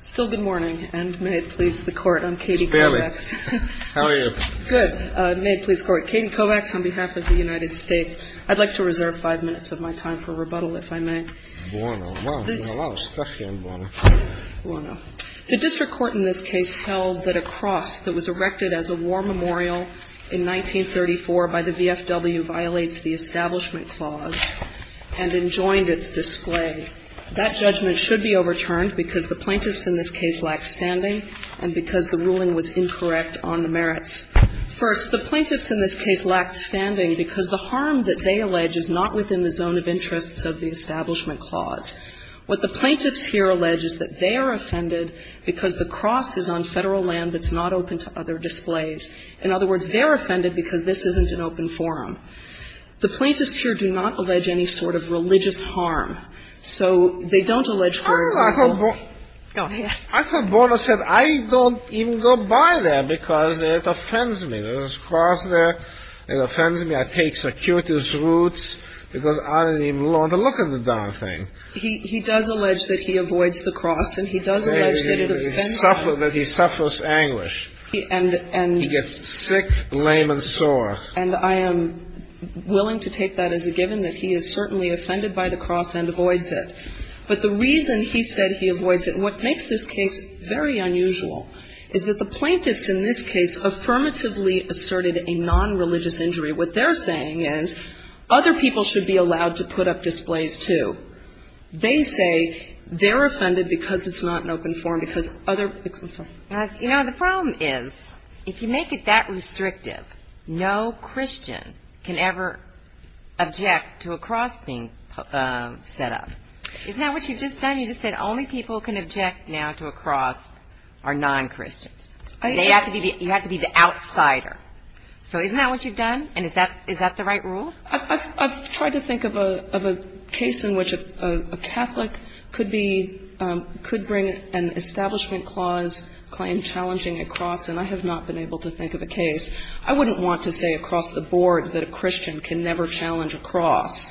Still good morning, and may it please the Court, I'm Katie Kovacs. How are you? Good. May it please the Court, Katie Kovacs on behalf of the United States. I'd like to reserve five minutes of my time for rebuttal, if I may. Buono. Buono. The district court in this case held that a cross that was erected as a war memorial in 1934 by the VFW violates the Establishment Clause and enjoined its display. That judgment should be overturned because the plaintiffs in this case lacked standing and because the ruling was incorrect on the merits. First, the plaintiffs in this case lacked standing because the harm that they allege is not within the zone of interests of the Establishment Clause. What the plaintiffs here allege is that they are offended because the cross is on Federal land that's not open to other displays. In other words, they're offended because this isn't an open forum. The plaintiffs here do not allege any sort of religious harm. So they don't allege, for example, Oh, I thought Buono said, I don't even go by there because it offends me. There's a cross there. It offends me. I take security's roots because I didn't even want to look at the darn thing. He does allege that he avoids the cross and he does allege that it offends him. He suffers anguish. He gets sick, lame and sore. And I am willing to take that as a given that he is certainly offended by the cross and avoids it. But the reason he said he avoids it, and what makes this case very unusual, is that the plaintiffs in this case affirmatively asserted a nonreligious injury. What they're saying is other people should be allowed to put up displays, too. They say they're offended because it's not an open forum, because other ---- I'm sorry. You know, the problem is if you make it that restrictive, no Christian can ever object to a cross being set up. Isn't that what you've just done? You just said only people who can object now to a cross are non-Christians. You have to be the outsider. So isn't that what you've done? And is that the right rule? I've tried to think of a case in which a Catholic could be ---- could bring an establishment clause, claim challenging a cross, and I have not been able to think of a case. I wouldn't want to say across the board that a Christian can never challenge a cross.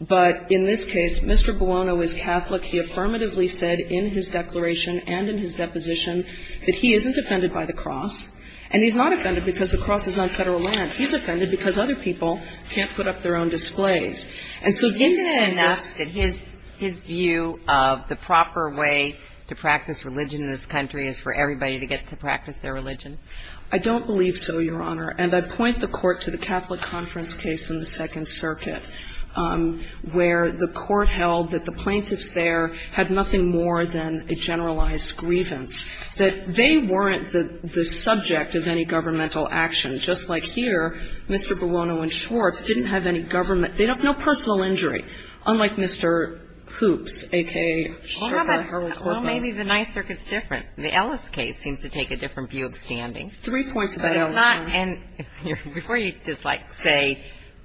But in this case, Mr. Buono is Catholic. He affirmatively said in his declaration and in his deposition that he isn't offended by the cross, and he's not offended because the cross is not Federal land. He's offended because other people can't put up their own displays. And so he's ---- Isn't it enough that his view of the proper way to practice religion in this country is for everybody to get to practice their religion? I don't believe so, Your Honor. And I point the Court to the Catholic Conference case in the Second Circuit, where the Court held that the plaintiffs there had nothing more than a generalized grievance, that they weren't the subject of any governmental action, just like here, where Mr. Buono and Schwartz didn't have any government ---- they don't have no personal injury, unlike Mr. Hoops, a.k.a. Sherpa, Harold Hoople. Well, maybe the Ninth Circuit's different. The Ellis case seems to take a different view of standing. Three points about Ellis, Your Honor. But it's not ---- and before you just, like, say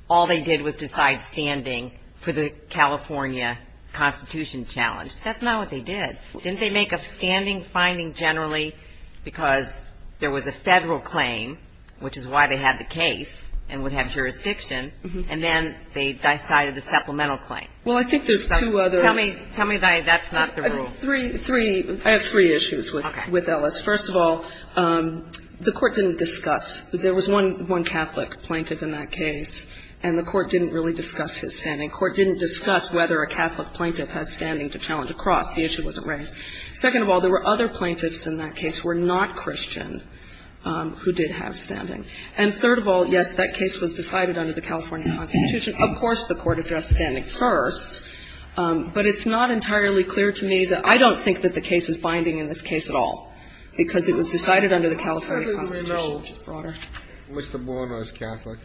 all they did was decide standing for the California Constitution challenge, that's not what they did. Didn't they make a standing finding generally because there was a Federal claim, which is why they had the case and would have jurisdiction, and then they decided the supplemental claim? Well, I think there's two other ---- Tell me that's not the rule. Three issues with Ellis. First of all, the Court didn't discuss. There was one Catholic plaintiff in that case, and the Court didn't really discuss his standing. The Court didn't discuss whether a Catholic plaintiff has standing to challenge a cross. The issue wasn't raised. Second of all, there were other plaintiffs in that case who were not Christian who did have standing. And third of all, yes, that case was decided under the California Constitution. Of course, the Court addressed standing first, but it's not entirely clear to me that I don't think that the case is binding in this case at all because it was decided under the California Constitution. Mr. Bourne was Catholic.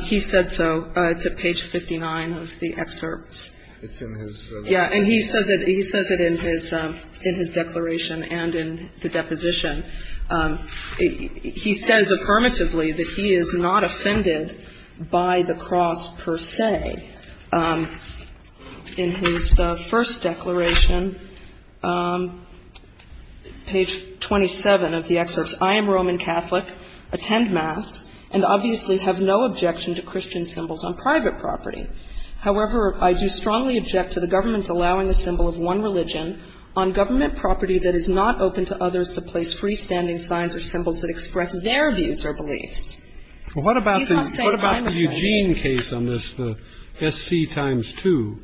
He said so. It's at page 59 of the excerpts. It's in his ---- Yeah, and he says it in his declaration and in the deposition. He says affirmatively that he is not offended by the cross per se. In his first declaration, page 27 of the excerpts, I am Roman Catholic, attend Mass, and obviously have no objection to Christian symbols on private property. However, I do strongly object to the government allowing the symbol of one religion on government property that is not open to others to place freestanding signs or symbols that express their views or beliefs. He's not saying I'm offended. Well, what about the Eugene case on this, the SC times 2?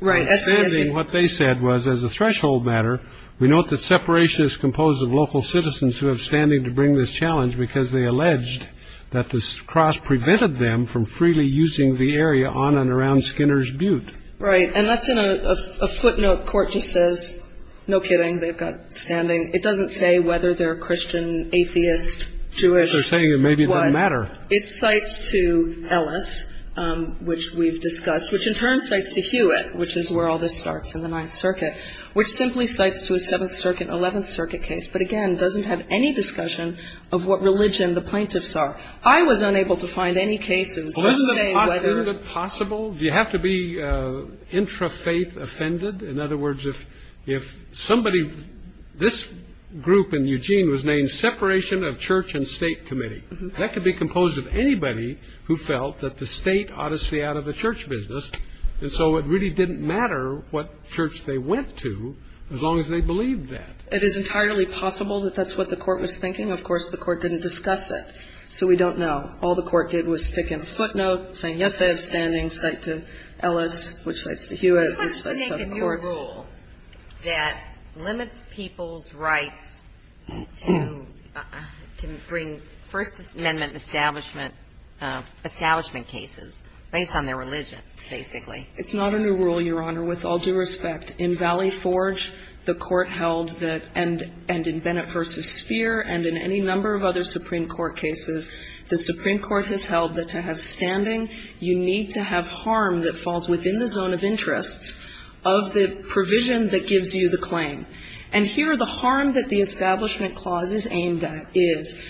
Right. Understanding what they said was as a threshold matter, we note that separation is composed of local citizens who have standing to bring this challenge because they alleged that the cross prevented them from freely using the area on and around Skinner's Butte. Right. And that's in a footnote court just says, no kidding, they've got standing. It doesn't say whether they're Christian, atheist, Jewish. They're saying it maybe doesn't matter. It cites to Ellis, which we've discussed, which in turn cites to Hewitt, which is where all this starts in the Ninth Circuit, which simply cites to a Seventh Circuit, Eleventh Circuit case, but again doesn't have any discussion of what religion the plaintiffs are. I was unable to find any cases. It doesn't say whether. Isn't it possible, do you have to be intrafaith offended? In other words, if somebody, this group in Eugene was named separation of church and state committee. That could be composed of anybody who felt that the state ought to stay out of the church business. And so it really didn't matter what church they went to as long as they believed that. It is entirely possible that that's what the court was thinking. Of course, the court didn't discuss it. So we don't know. All the court did was stick in a footnote saying, yes, they have standing, cite to Ellis, which cites to Hewitt, which cites to other courts. You're questioning the new rule that limits people's rights to bring First Amendment establishment, establishment cases based on their religion, basically. It's not a new rule, Your Honor, with all due respect. In Valley Forge, the court held that, and in Bennett v. Speer and in any number of other Supreme Court cases, the Supreme Court has held that to have standing, you need to have harm that falls within the zone of interest of the provision that gives you the claim. And here, the harm that the establishment clause is aimed at is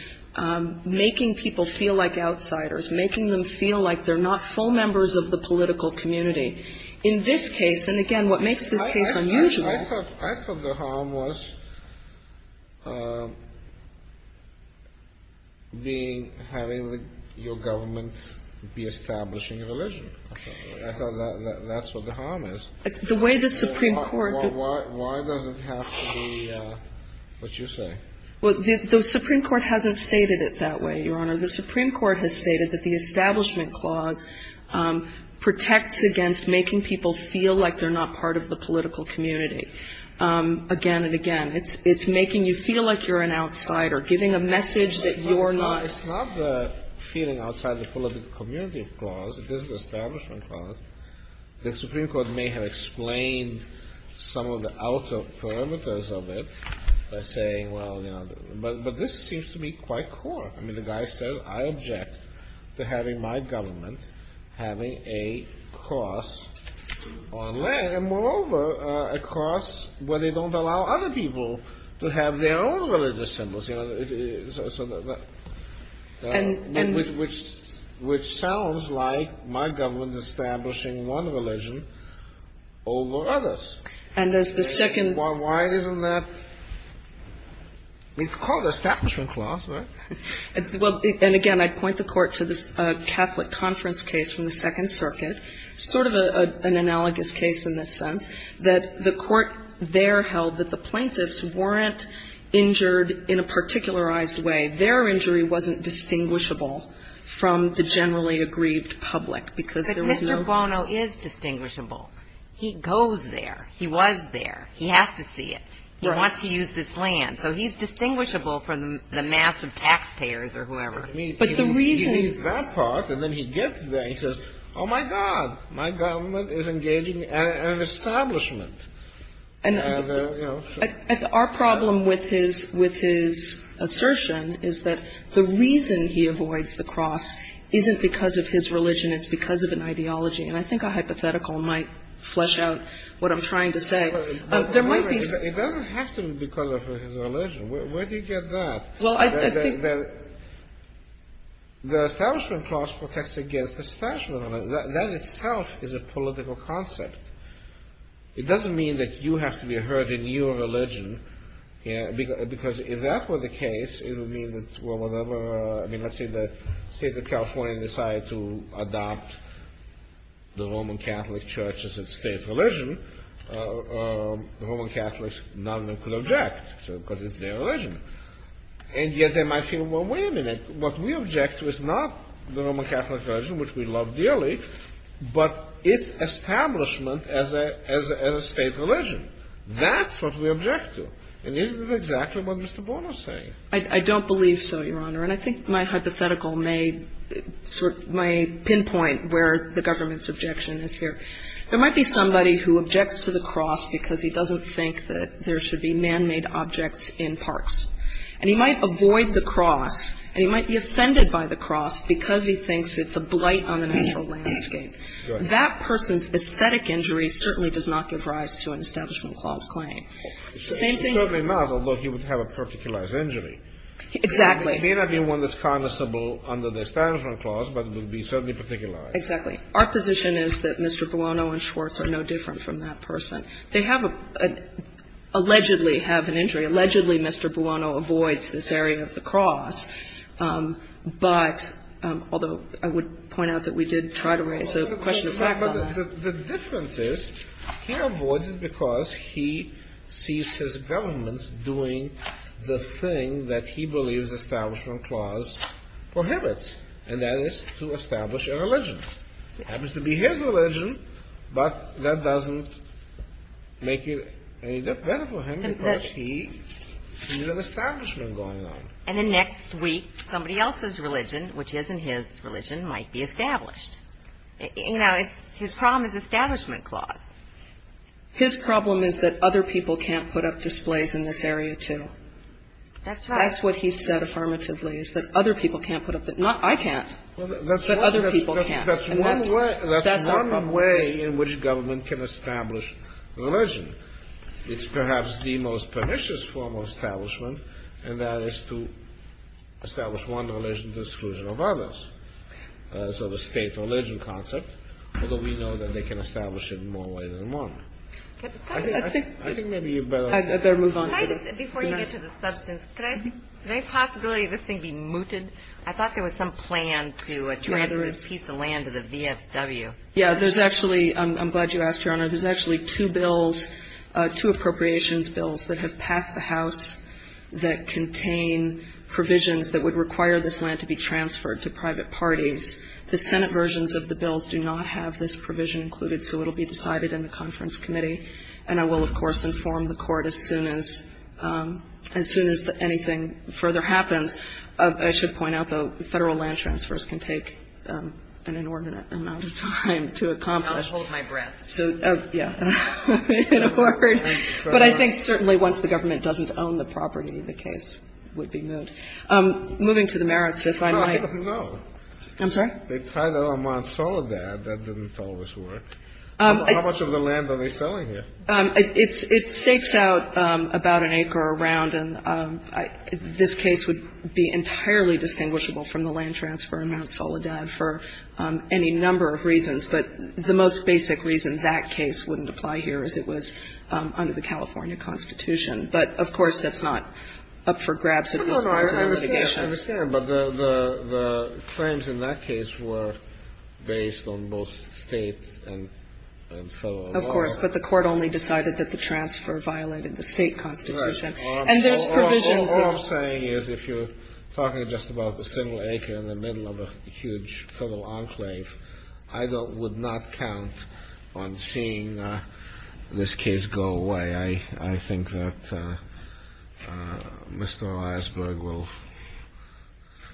making people feel like outsiders, making them feel like they're not full members of the political community. In this case, and again, what makes this case unusual. I thought the harm was being, having your government be establishing a religion. Okay. I thought that's what the harm is. The way the Supreme Court. Why does it have to be what you say? Well, the Supreme Court hasn't stated it that way, Your Honor. The Supreme Court has stated that the establishment clause protects against making people feel like they're not part of the political community. Again and again, it's making you feel like you're an outsider, giving a message that you're not. It's not the feeling outside the political community clause. It is the establishment clause. The Supreme Court may have explained some of the outer parameters of it by saying, well, you know, but this seems to be quite core. I mean, the guy says, I object to having my government having a clause on land, and moreover, a clause where they don't allow other people to have their own religious symbols, you know, so that. And. Which sounds like my government is establishing one religion over others. And as the second. Why isn't that? It's called establishment clause, right? Well, and again, I'd point the Court to this Catholic Conference case from the Second Circuit, sort of an analogous case in this sense, that the Court there held that the plaintiffs weren't injured in a particularized way. Their injury wasn't distinguishable from the generally aggrieved public, because there was no. But Mr. Bono is distinguishable. He goes there. He was there. He has to see it. He wants to use this land. So he's distinguishable from the mass of taxpayers or whoever. But the reason. He needs that part, and then he gets there. He says, oh, my God, my government is engaging an establishment. And our problem with his assertion is that the reason he avoids the cross isn't because of his religion. It's because of an ideology. And I think a hypothetical might flesh out what I'm trying to say. It doesn't have to be because of his religion. Where do you get that? The establishment clause protects against the establishment. That itself is a political concept. It doesn't mean that you have to be heard in your religion, because if that were the case, it would mean that, well, whatever. I mean, let's say the State of California decided to adopt the Roman Catholic Church as its state religion, the Roman Catholics, none of them could object, because it's their religion. And yet they might feel, well, wait a minute. What we object to is not the Roman Catholic religion, which we love dearly, but its establishment as a state religion. That's what we object to. And isn't that exactly what Mr. Bonner is saying? I don't believe so, Your Honor. And I think my hypothetical may pinpoint where the government's objection is here. There might be somebody who objects to the cross because he doesn't think that there should be man-made objects in parks. And he might avoid the cross, and he might be offended by the cross because he thinks it's a blight on the natural landscape. That person's aesthetic injury certainly does not give rise to an establishment clause claim. The same thing. It certainly not, although he would have a particularized injury. Exactly. It may not be one that's condemnable under the establishment clause, but it would be certainly particularized. Exactly. Our position is that Mr. Buono and Schwartz are no different from that person. They have a – allegedly have an injury. Allegedly, Mr. Buono avoids this area of the cross, but – although I would point out that we did try to raise a question of fact on that. The difference is he avoids it because he sees his government doing the thing that he believes establishment clause prohibits, and that is to establish a religion. It happens to be his religion, but that doesn't make it any better for him because he sees an establishment going on. And then next week, somebody else's religion, which isn't his religion, might be established. You know, his problem is establishment clause. His problem is that other people can't put up displays in this area, too. That's right. That's what he said affirmatively, is that other people can't put up the – not I can't, but other people can't. And that's our problem. That's one way in which government can establish religion. It's perhaps the most pernicious form of establishment, and that is to establish one religion to the exclusion of others. So the state religion concept, although we know that they can establish it in more ways than one. I think maybe you better move on to the next. Thank you, Justice. Could I ask, could I possibly, this thing be mooted? I thought there was some plan to transfer this piece of land to the VFW. Yeah, there's actually – I'm glad you asked, Your Honor. There's actually two bills, two appropriations bills that have passed the House that contain provisions that would require this land to be transferred to private parties. The Senate versions of the bills do not have this provision included, so it will be decided in the conference committee. And I will, of course, inform the Court as soon as, as soon as anything further happens. I should point out, though, federal land transfers can take an inordinate amount of time to accomplish. I'll hold my breath. So, yeah. But I think certainly once the government doesn't own the property, the case would be moot. Moving to the merits, if I might. I don't know. I'm sorry? The title on Monsolidad, that didn't tell us where. How much of the land are they selling here? It stakes out about an acre around. And this case would be entirely distinguishable from the land transfer in Monsolidad for any number of reasons. But the most basic reason that case wouldn't apply here is it was under the California Constitution. But, of course, that's not up for grabs at this point in the litigation. I understand. But the claims in that case were based on both state and federal laws. Of course. But the Court only decided that the transfer violated the state constitution. Right. All I'm saying is if you're talking just about a single acre in the middle of a huge federal enclave, I would not count on seeing this case go away. I think that Mr. Eisberg will,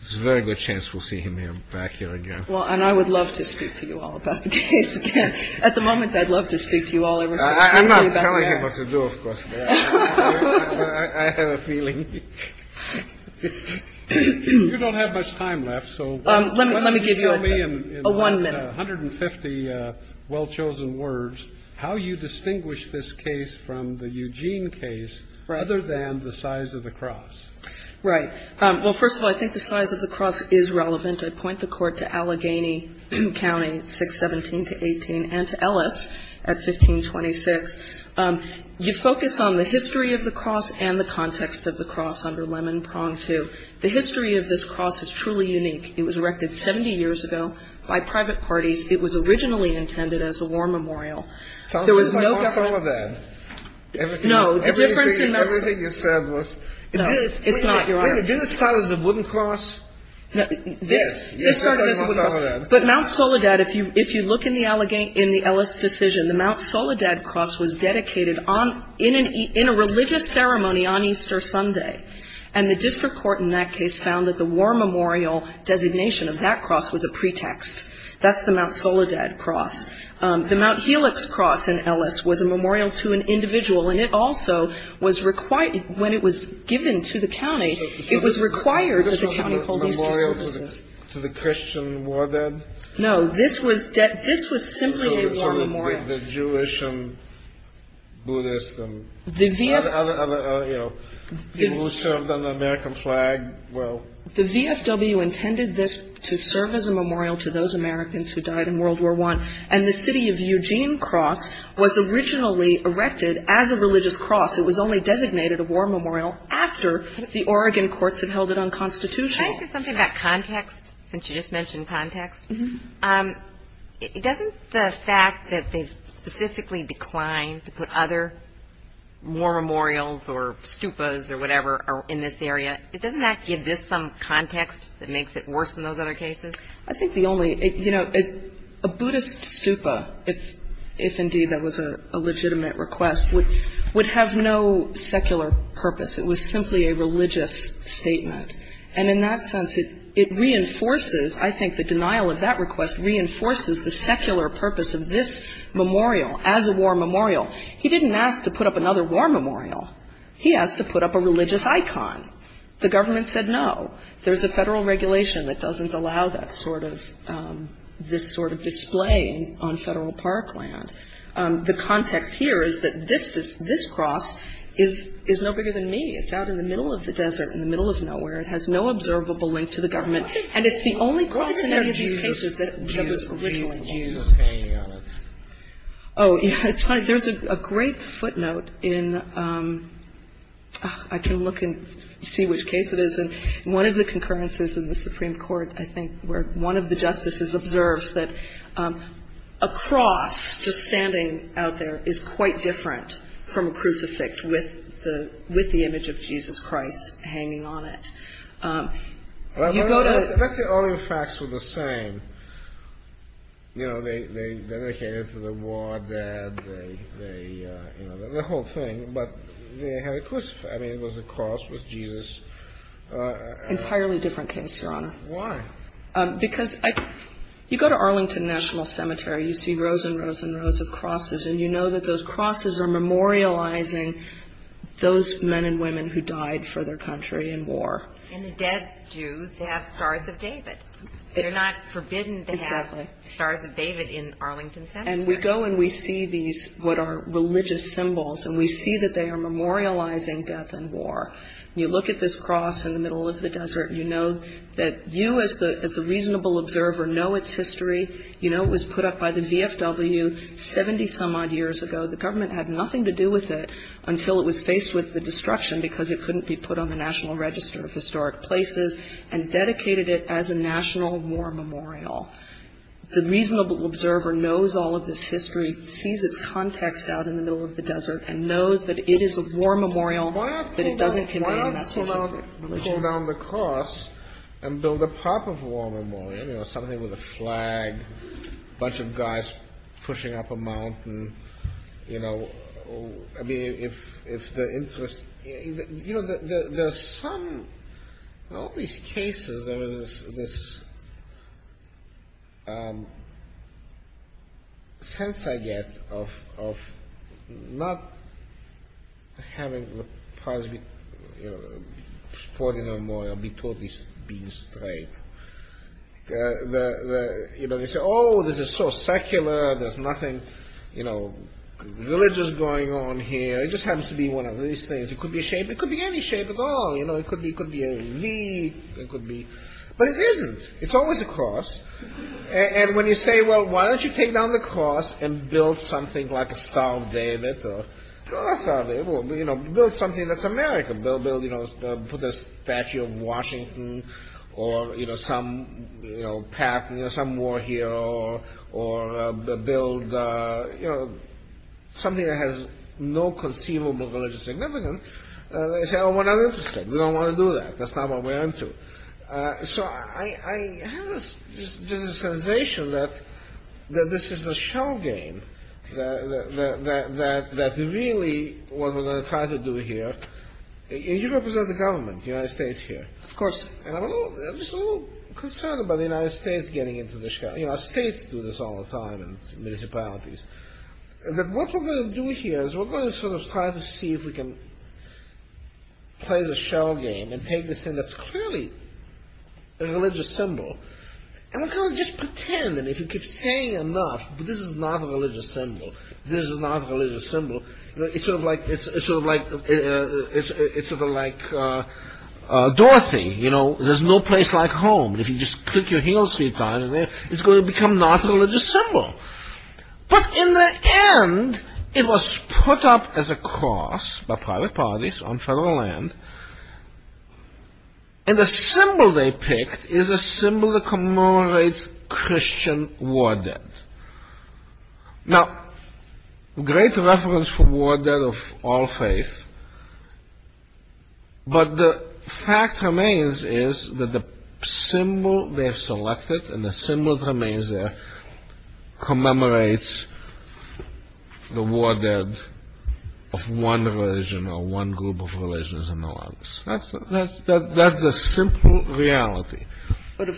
it's a very good chance we'll see him back here again. Well, and I would love to speak to you all about the case again. At the moment, I'd love to speak to you all. I'm not telling him what to do, of course. I have a feeling. You don't have much time left. Let me give you a one minute. I have a one minute. Mr. Eisenberg, I would like to ask you, if you'll allow me. I'm going to give you 150 well-chosen words, how you distinguish this case from the Eugene case, other than the size of the cross. Right. Well, first of all, I think the size of the cross is relevant. I point the Court to Allegheny County, 617-18, and to Ellis at 1526. You focus on the history of the cross and the context of the cross under Lemon Prong II. The history of this cross is truly unique. It was erected 70 years ago by private parties. It was originally intended as a war memorial. It sounds like Mount Soledad. No, the difference in Mount Soledad. Everything you said was... No, it's not. Wait a minute, didn't it start as a wooden cross? No, this started as a wooden cross. But Mount Soledad, if you look in the Ellis decision, the Mount Soledad cross was dedicated in a religious ceremony on Easter Sunday. And the district court in that case found that the war memorial designation of that cross was a pretext. That's the Mount Soledad cross. The Mount Helix cross in Ellis was a memorial to an individual, and it also was required when it was given to the county. It was required that the county hold Easter services. It was not a memorial to the Christian war dead? No. This was simply a war memorial. The Jewish and Buddhist and other people who served on the American flag. Well... The VFW intended this to serve as a memorial to those Americans who died in World War I, and the city of Eugene cross was originally erected as a religious cross. It was only designated a war memorial after the Oregon courts had held it unconstitutional. Can I say something about context, since you just mentioned context? Mm-hmm. Doesn't the fact that they specifically declined to put other war memorials or stupas or whatever in this area, doesn't that give this some context that makes it worse than those other cases? I think the only... You know, a Buddhist stupa, if indeed that was a legitimate request, would have no secular purpose. It was simply a religious statement. And in that sense, it reinforces... I think the denial of that request reinforces the secular purpose of this memorial as a war memorial. He didn't ask to put up another war memorial. He asked to put up a religious icon. The government said no. There's a federal regulation that doesn't allow that sort of... this sort of display on federal parkland. The context here is that this cross is no bigger than me. It's out in the middle of the desert, in the middle of nowhere. It has no observable link to the government. And it's the only cross in any of these cases that was originally... What did Jesus say on it? Oh, yeah. There's a great footnote in... I can look and see which case it is. In one of the concurrences in the Supreme Court, I think, where one of the justices observes that a cross just standing out there is quite different from a crucifix with the image of Jesus Christ hanging on it. You go to... Let's say all the facts were the same. They came into the war dead. The whole thing. But they had a crucifix. I mean, it was a cross with Jesus. Entirely different case, Your Honor. Why? You see rows and rows and rows of crosses. And you know that those crosses are memorializing those men and women who died for their country in war. And the dead Jews have stars of David. They're not forbidden to have stars of David in Arlington Center. And we go and we see these, what are religious symbols. And we see that they are memorializing death and war. You look at this cross in the middle of the desert. You know that you, as the reasonable observer, know its history. You know it was put up by the VFW 70-some-odd years ago. The government had nothing to do with it until it was faced with the destruction because it couldn't be put on the National Register of Historic Places and dedicated it as a national war memorial. The reasonable observer knows all of this history, sees its context out in the middle of the desert, and knows that it is a war memorial but it doesn't convey a message of religion. Why not pull down the cross and build a proper war memorial, you know, something with a flag, a bunch of guys pushing up a mountain. You know, I mean, if the interest... You know, there's some, in all these cases, there is this sense I get of not having the prize, you know, sporting a memorial, being totally straight. You know, they say, oh, this is so secular, there's nothing, you know, religious going on here. It just happens to be one of these things. It could be a shape, it could be any shape at all. You know, it could be a V, it could be... But it isn't. It's always a cross. And when you say, well, why don't you take down the cross and build something like a Star of David or... You know, build something that's American. They'll build, you know, put a statue of Washington or, you know, some, you know, some war hero or build, you know, something that has no conceivable religious significance. They say, oh, we're not interested. We don't want to do that. That's not what we're into. So I have this sensation that this is a shell game that really what we're going to try to do here... And you represent the government, the United States here. Of course, I'm just a little concerned about the United States getting into this shell... You know, states do this all the time in municipalities. That what we're going to do here is we're going to sort of try to see if we can play the shell game and take this thing that's clearly a religious symbol and we're going to just pretend that if you keep saying enough, this is not a religious symbol, this is not a religious symbol, it's sort of like Dorothy, you know, there's no place like home. If you just click your heel three times, it's going to become not a religious symbol. But in the end, it was put up as a cross by private parties on federal land and the symbol they picked is a symbol that commemorates Christian war dead. Now, great reference for war dead of all faith, but the fact remains is that the symbol they've selected and the symbol that remains there commemorates the war dead of one religion or one group of religions and no others. That's a simple reality. But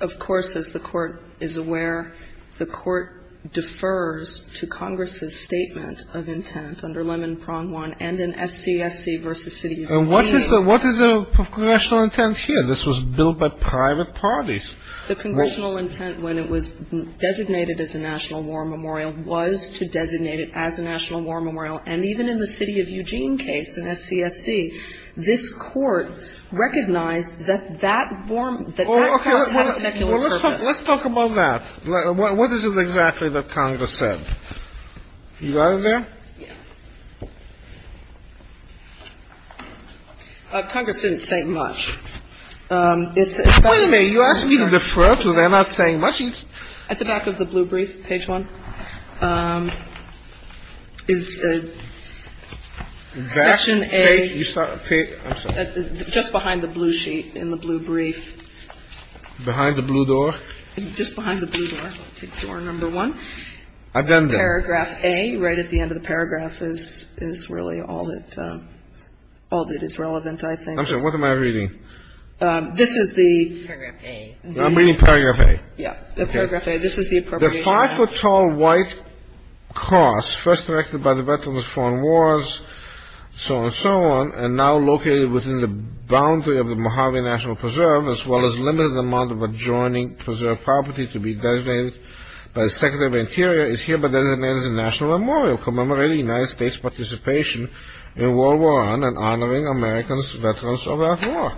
of course, as the Court is aware, the Court defers to Congress's statement of intent under Lemon Pond 1 and in SCFC v. City of Green. And what is the congressional intent here? This was built by private parties. The congressional intent when it was designated as a national war memorial was to designate it as a national war memorial. And even in the City of Eugene case in SCFC, this Court recognized that that war, that that cross has a secular purpose. Let's talk about that. What is it exactly that Congress said? You got it there? Yeah. Congress didn't say much. Wait a minute. You asked me to defer to them. I'm not saying much. At the back of the blue brief, page 1, is section A. Just behind the blue sheet in the blue brief. Behind the blue door? Just behind the blue door. I'll take door number 1. I've done that. Paragraph A, right at the end of the paragraph, is really all that is relevant, I think. I'm sorry. What am I reading? This is the paragraph A. I'm reading paragraph A. Yeah, the paragraph A. This is the appropriation. The five-foot-tall white cross, first erected by the veterans of foreign wars, so on and so on, and now located within the boundary of the Mojave National Preserve, as well as limited in the amount of adjoining preserved property to be designated by the Secretary of the Interior, is hereby designated as a national memorial commemorating the United States' participation in World War I and honoring Americans veterans of that war.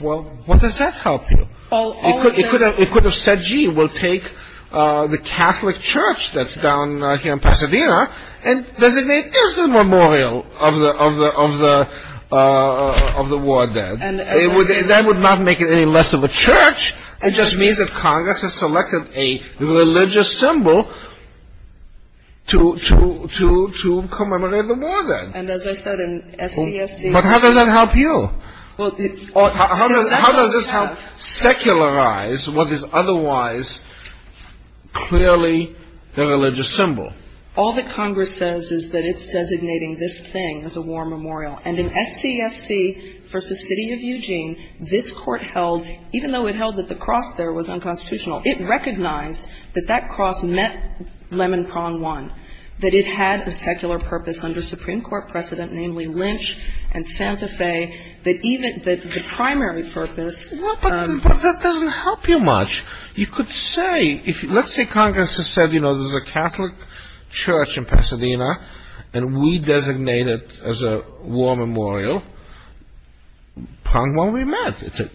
Well, what does that help you? It could have said, gee, we'll take the Catholic Church that's down here in Pasadena and designate this as a memorial of the war dead. That would not make it any less of a church. It just means that Congress has selected a religious symbol to commemorate the war dead. And as I said in SCSC. But how does that help you? How does this help secularize what is otherwise clearly the religious symbol? All that Congress says is that it's designating this thing as a war memorial. And in SCSC v. City of Eugene, this Court held, even though it held that the cross there was unconstitutional, it recognized that that cross meant Lemon Prawn One, that it had a secular purpose under Supreme Court precedent, namely Lynch and Santa Fe, that even the primary purpose... Well, but that doesn't help you much. You could say, let's say Congress has said, you know, there's a Catholic Church in Pasadena and we designate it as a war memorial. Prawn One we meant. It's a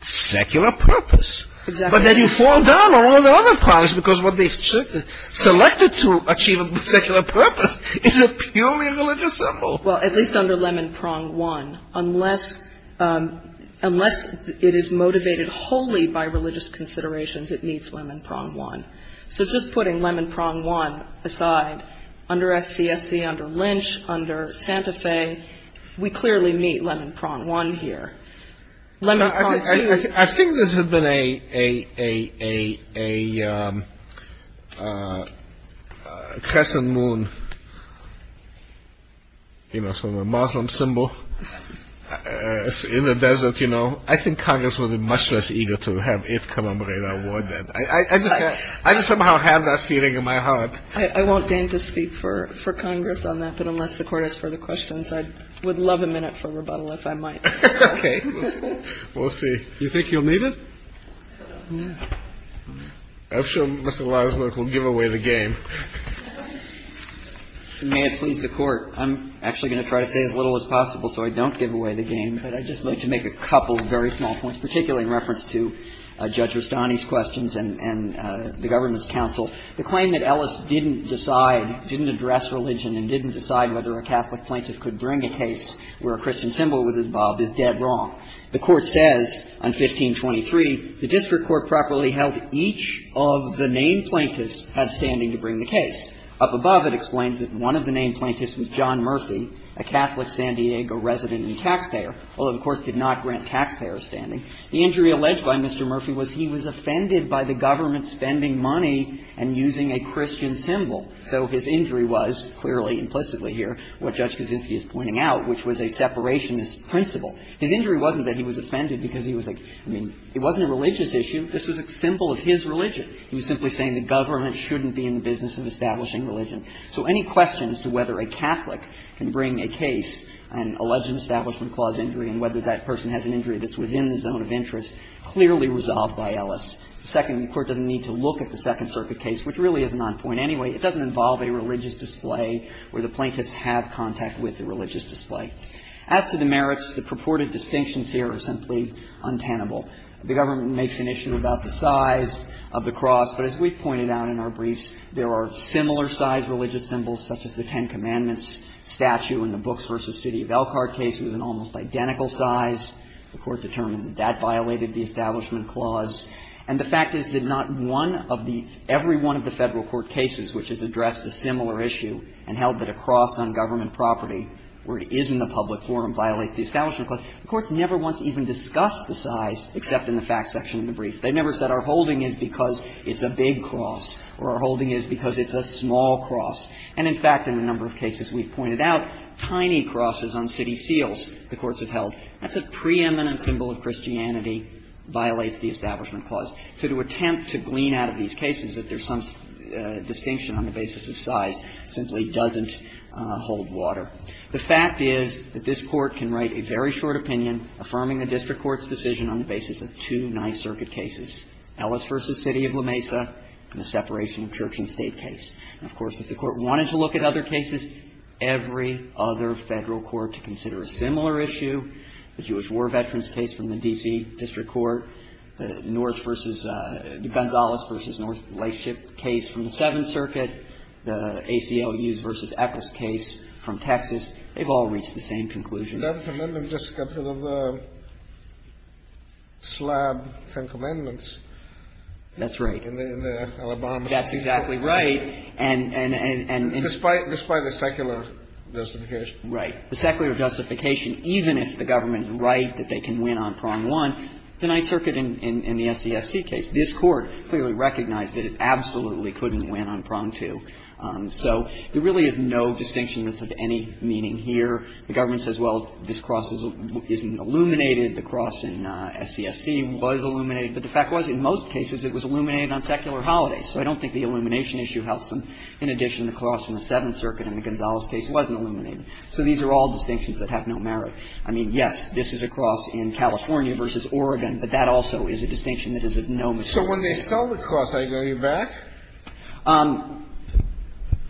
secular purpose. Exactly. But then you fall down all the other prawns because what they selected to achieve a secular purpose is a purely religious symbol. Well, at least under Lemon Prawn One. Unless it is motivated wholly by religious considerations, it meets Lemon Prawn One. So just putting Lemon Prawn One aside, under SCSC, under Lynch, under Santa Fe, we clearly meet Lemon Prawn One here. Lemon Prawn Two... I think this has been a crescent moon, you know, Muslim symbol in the desert, you know. I think Congress would be much less eager to have it commemorate our war then. I just somehow have that feeling in my heart. I won't deign to speak for Congress on that, but unless the Court has further questions, I would love a minute for rebuttal if I might. Okay. We'll see. Do you think you'll need it? I'm sure Mr. Wiesner will give away the game. May it please the Court. I'm actually going to try to say as little as possible so I don't give away the game, but I'd just like to make a couple of very small points, particularly in reference to Judge Rustani's questions and the government's counsel. The claim that Ellis didn't decide, didn't address religion, and didn't decide whether a Catholic plaintiff could bring a case where a Christian symbol was involved is dead wrong. The Court says on 1523, The district court properly held each of the named plaintiffs had standing to bring the case. Up above, it explains that one of the named plaintiffs was John Murphy, a Catholic San Diego resident and taxpayer, although the Court did not grant taxpayer a standing. The injury alleged by Mr. Murphy was he was offended by the government spending money and using a Christian symbol. So his injury was, clearly, implicitly here, what Judge Kaczynski is pointing out, which was a separationist principle. His injury wasn't that he was offended because he was like, I mean, it wasn't a religious issue. This was a symbol of his religion. He was simply saying the government shouldn't be in the business of establishing religion. So any questions to whether a Catholic can bring a case, an alleged establishment clause injury, and whether that person has an injury that's within the zone of interest, clearly resolved by Ellis. The second, the Court doesn't need to look at the Second Circuit case, which really isn't on point anyway. It doesn't involve a religious display where the plaintiffs have contact with the religious display. As to the merits, the purported distinctions here are simply untenable. The government makes an issue about the size of the cross, but as we've pointed out in our briefs, there are similar-sized religious symbols, such as the Ten Commandments statue in the Books v. City of Elkhart case. It was an almost identical size. The Court determined that that violated the Establishment Clause. And the fact is that not one of the — every one of the Federal court cases which has addressed a similar issue and held that a cross on government property where it is in the public forum violates the Establishment Clause, the courts never once even discussed the size except in the facts section of the brief. They never said our holding is because it's a big cross or our holding is because it's a small cross. And, in fact, in a number of cases we've pointed out, tiny crosses on city seals the courts have held, that's a preeminent symbol of Christianity, violates the Establishment Clause. So to attempt to glean out of these cases that there's some distinction on the basis of size simply doesn't hold water. The fact is that this Court can write a very short opinion affirming the district court's decision on the basis of two Ninth Circuit cases, Ellis v. City of La Mesa and the separation of church and state case. And, of course, if the Court wanted to look at other cases, every other Federal court to consider a similar issue, the Jewish War Veterans case from the D.C. District Court, the North versus the Gonzales v. North Lightship case from the Seventh Circuit, the ACLU's v. Eccles case from Texas, they've all reached the same conclusion. Kennedy. The 11th Amendment just got rid of the slab Ten Commandments. That's right. In the Alabama case. That's exactly right. And, and, and, and, and. Despite, despite the secular justification. Right. The secular justification, even if the government's right that they can win on prong one, the Ninth Circuit in, in, in the SCSC case, this Court clearly recognized that it absolutely couldn't win on prong two. So there really is no distinction that's of any meaning here. The government says, well, this cross isn't illuminated. The cross in SCSC was illuminated. But the fact was, in most cases, it was illuminated on secular holidays. So I don't think the illumination issue helps them. In addition, the cross in the Seventh Circuit in the Gonzales case wasn't illuminated. So these are all distinctions that have no merit. I mean, yes, this is a cross in California versus Oregon. But that also is a distinction that is of no merit. So when they sell the cross, are you going to be back?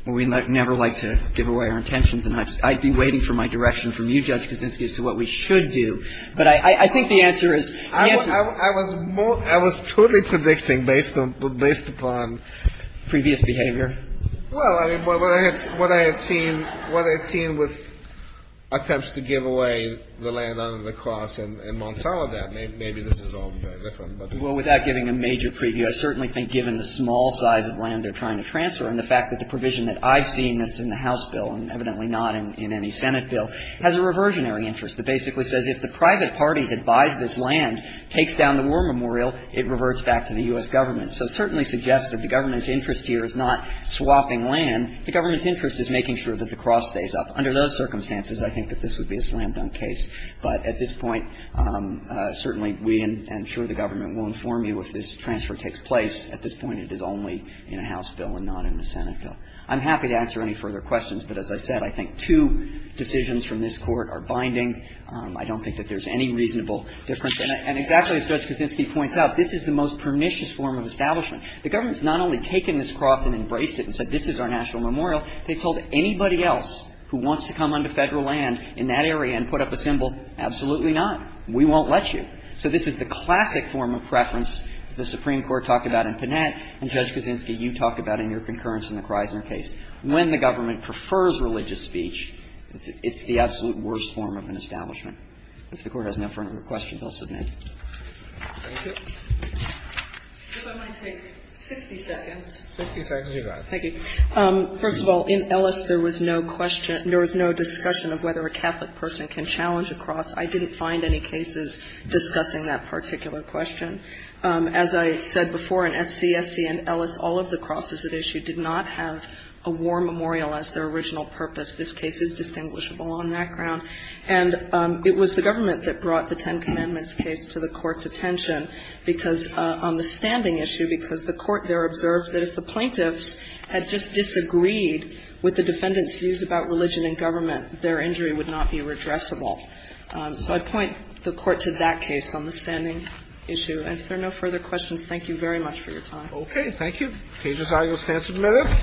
We never like to give away our intentions. And I'd be waiting for my direction from you, Judge Kuczynski, as to what we should do. But I, I think the answer is, the answer is. I was more, I was totally predicting based on, based upon. Previous behavior. Well, I mean, what I had seen, what I had seen with attempts to give away the land under the cross in, in Monsanto, that maybe, maybe this is all very different. Well, without giving a major preview, I certainly think given the small size of land they're trying to transfer and the fact that the provision that I've seen that's in the House bill, and evidently not in, in any Senate bill, has a reversionary interest. It basically says if the private party that buys this land takes down the war memorial, it reverts back to the U.S. government. So it certainly suggests that the government's interest here is not swapping land. The government's interest is making sure that the cross stays up. Under those circumstances, I think that this would be a slam-dunk case. But at this point, certainly we and, and I'm sure the government will inform you if this transfer takes place. At this point, it is only in a House bill and not in a Senate bill. I'm happy to answer any further questions. But as I said, I think two decisions from this Court are binding. I don't think that there's any reasonable difference. And exactly as Judge Kaczynski points out, this is the most pernicious form of establishment. The government's not only taken this cross and embraced it and said this is our national memorial, they've told anybody else who wants to come onto Federal land in that area and put up a symbol, absolutely not. We won't let you. So this is the classic form of preference that the Supreme Court talked about in Panett and, Judge Kaczynski, you talked about in your concurrence in the Chrysler case. When the government prefers religious speech, it's the absolute worst form of an establishment. If the Court has no further questions, I'll submit. Thank you. If I might take 60 seconds. 60 seconds, you're good. Thank you. First of all, in Ellis, there was no question or there was no discussion of whether a Catholic person can challenge a cross. I didn't find any cases discussing that particular question. As I said before, in SCSC and Ellis, all of the crosses at issue did not have a war memorial as their original purpose. This case is distinguishable on that ground. And it was the government that brought the Ten Commandments case to the Court's attention because on the standing issue, because the Court there observed that if the plaintiffs had just disagreed with the defendant's views about religion and government, their injury would not be redressable. So I'd point the Court to that case on the standing issue. And if there are no further questions, thank you very much for your time. Okay. Thank you. Cases, I will stand submitted.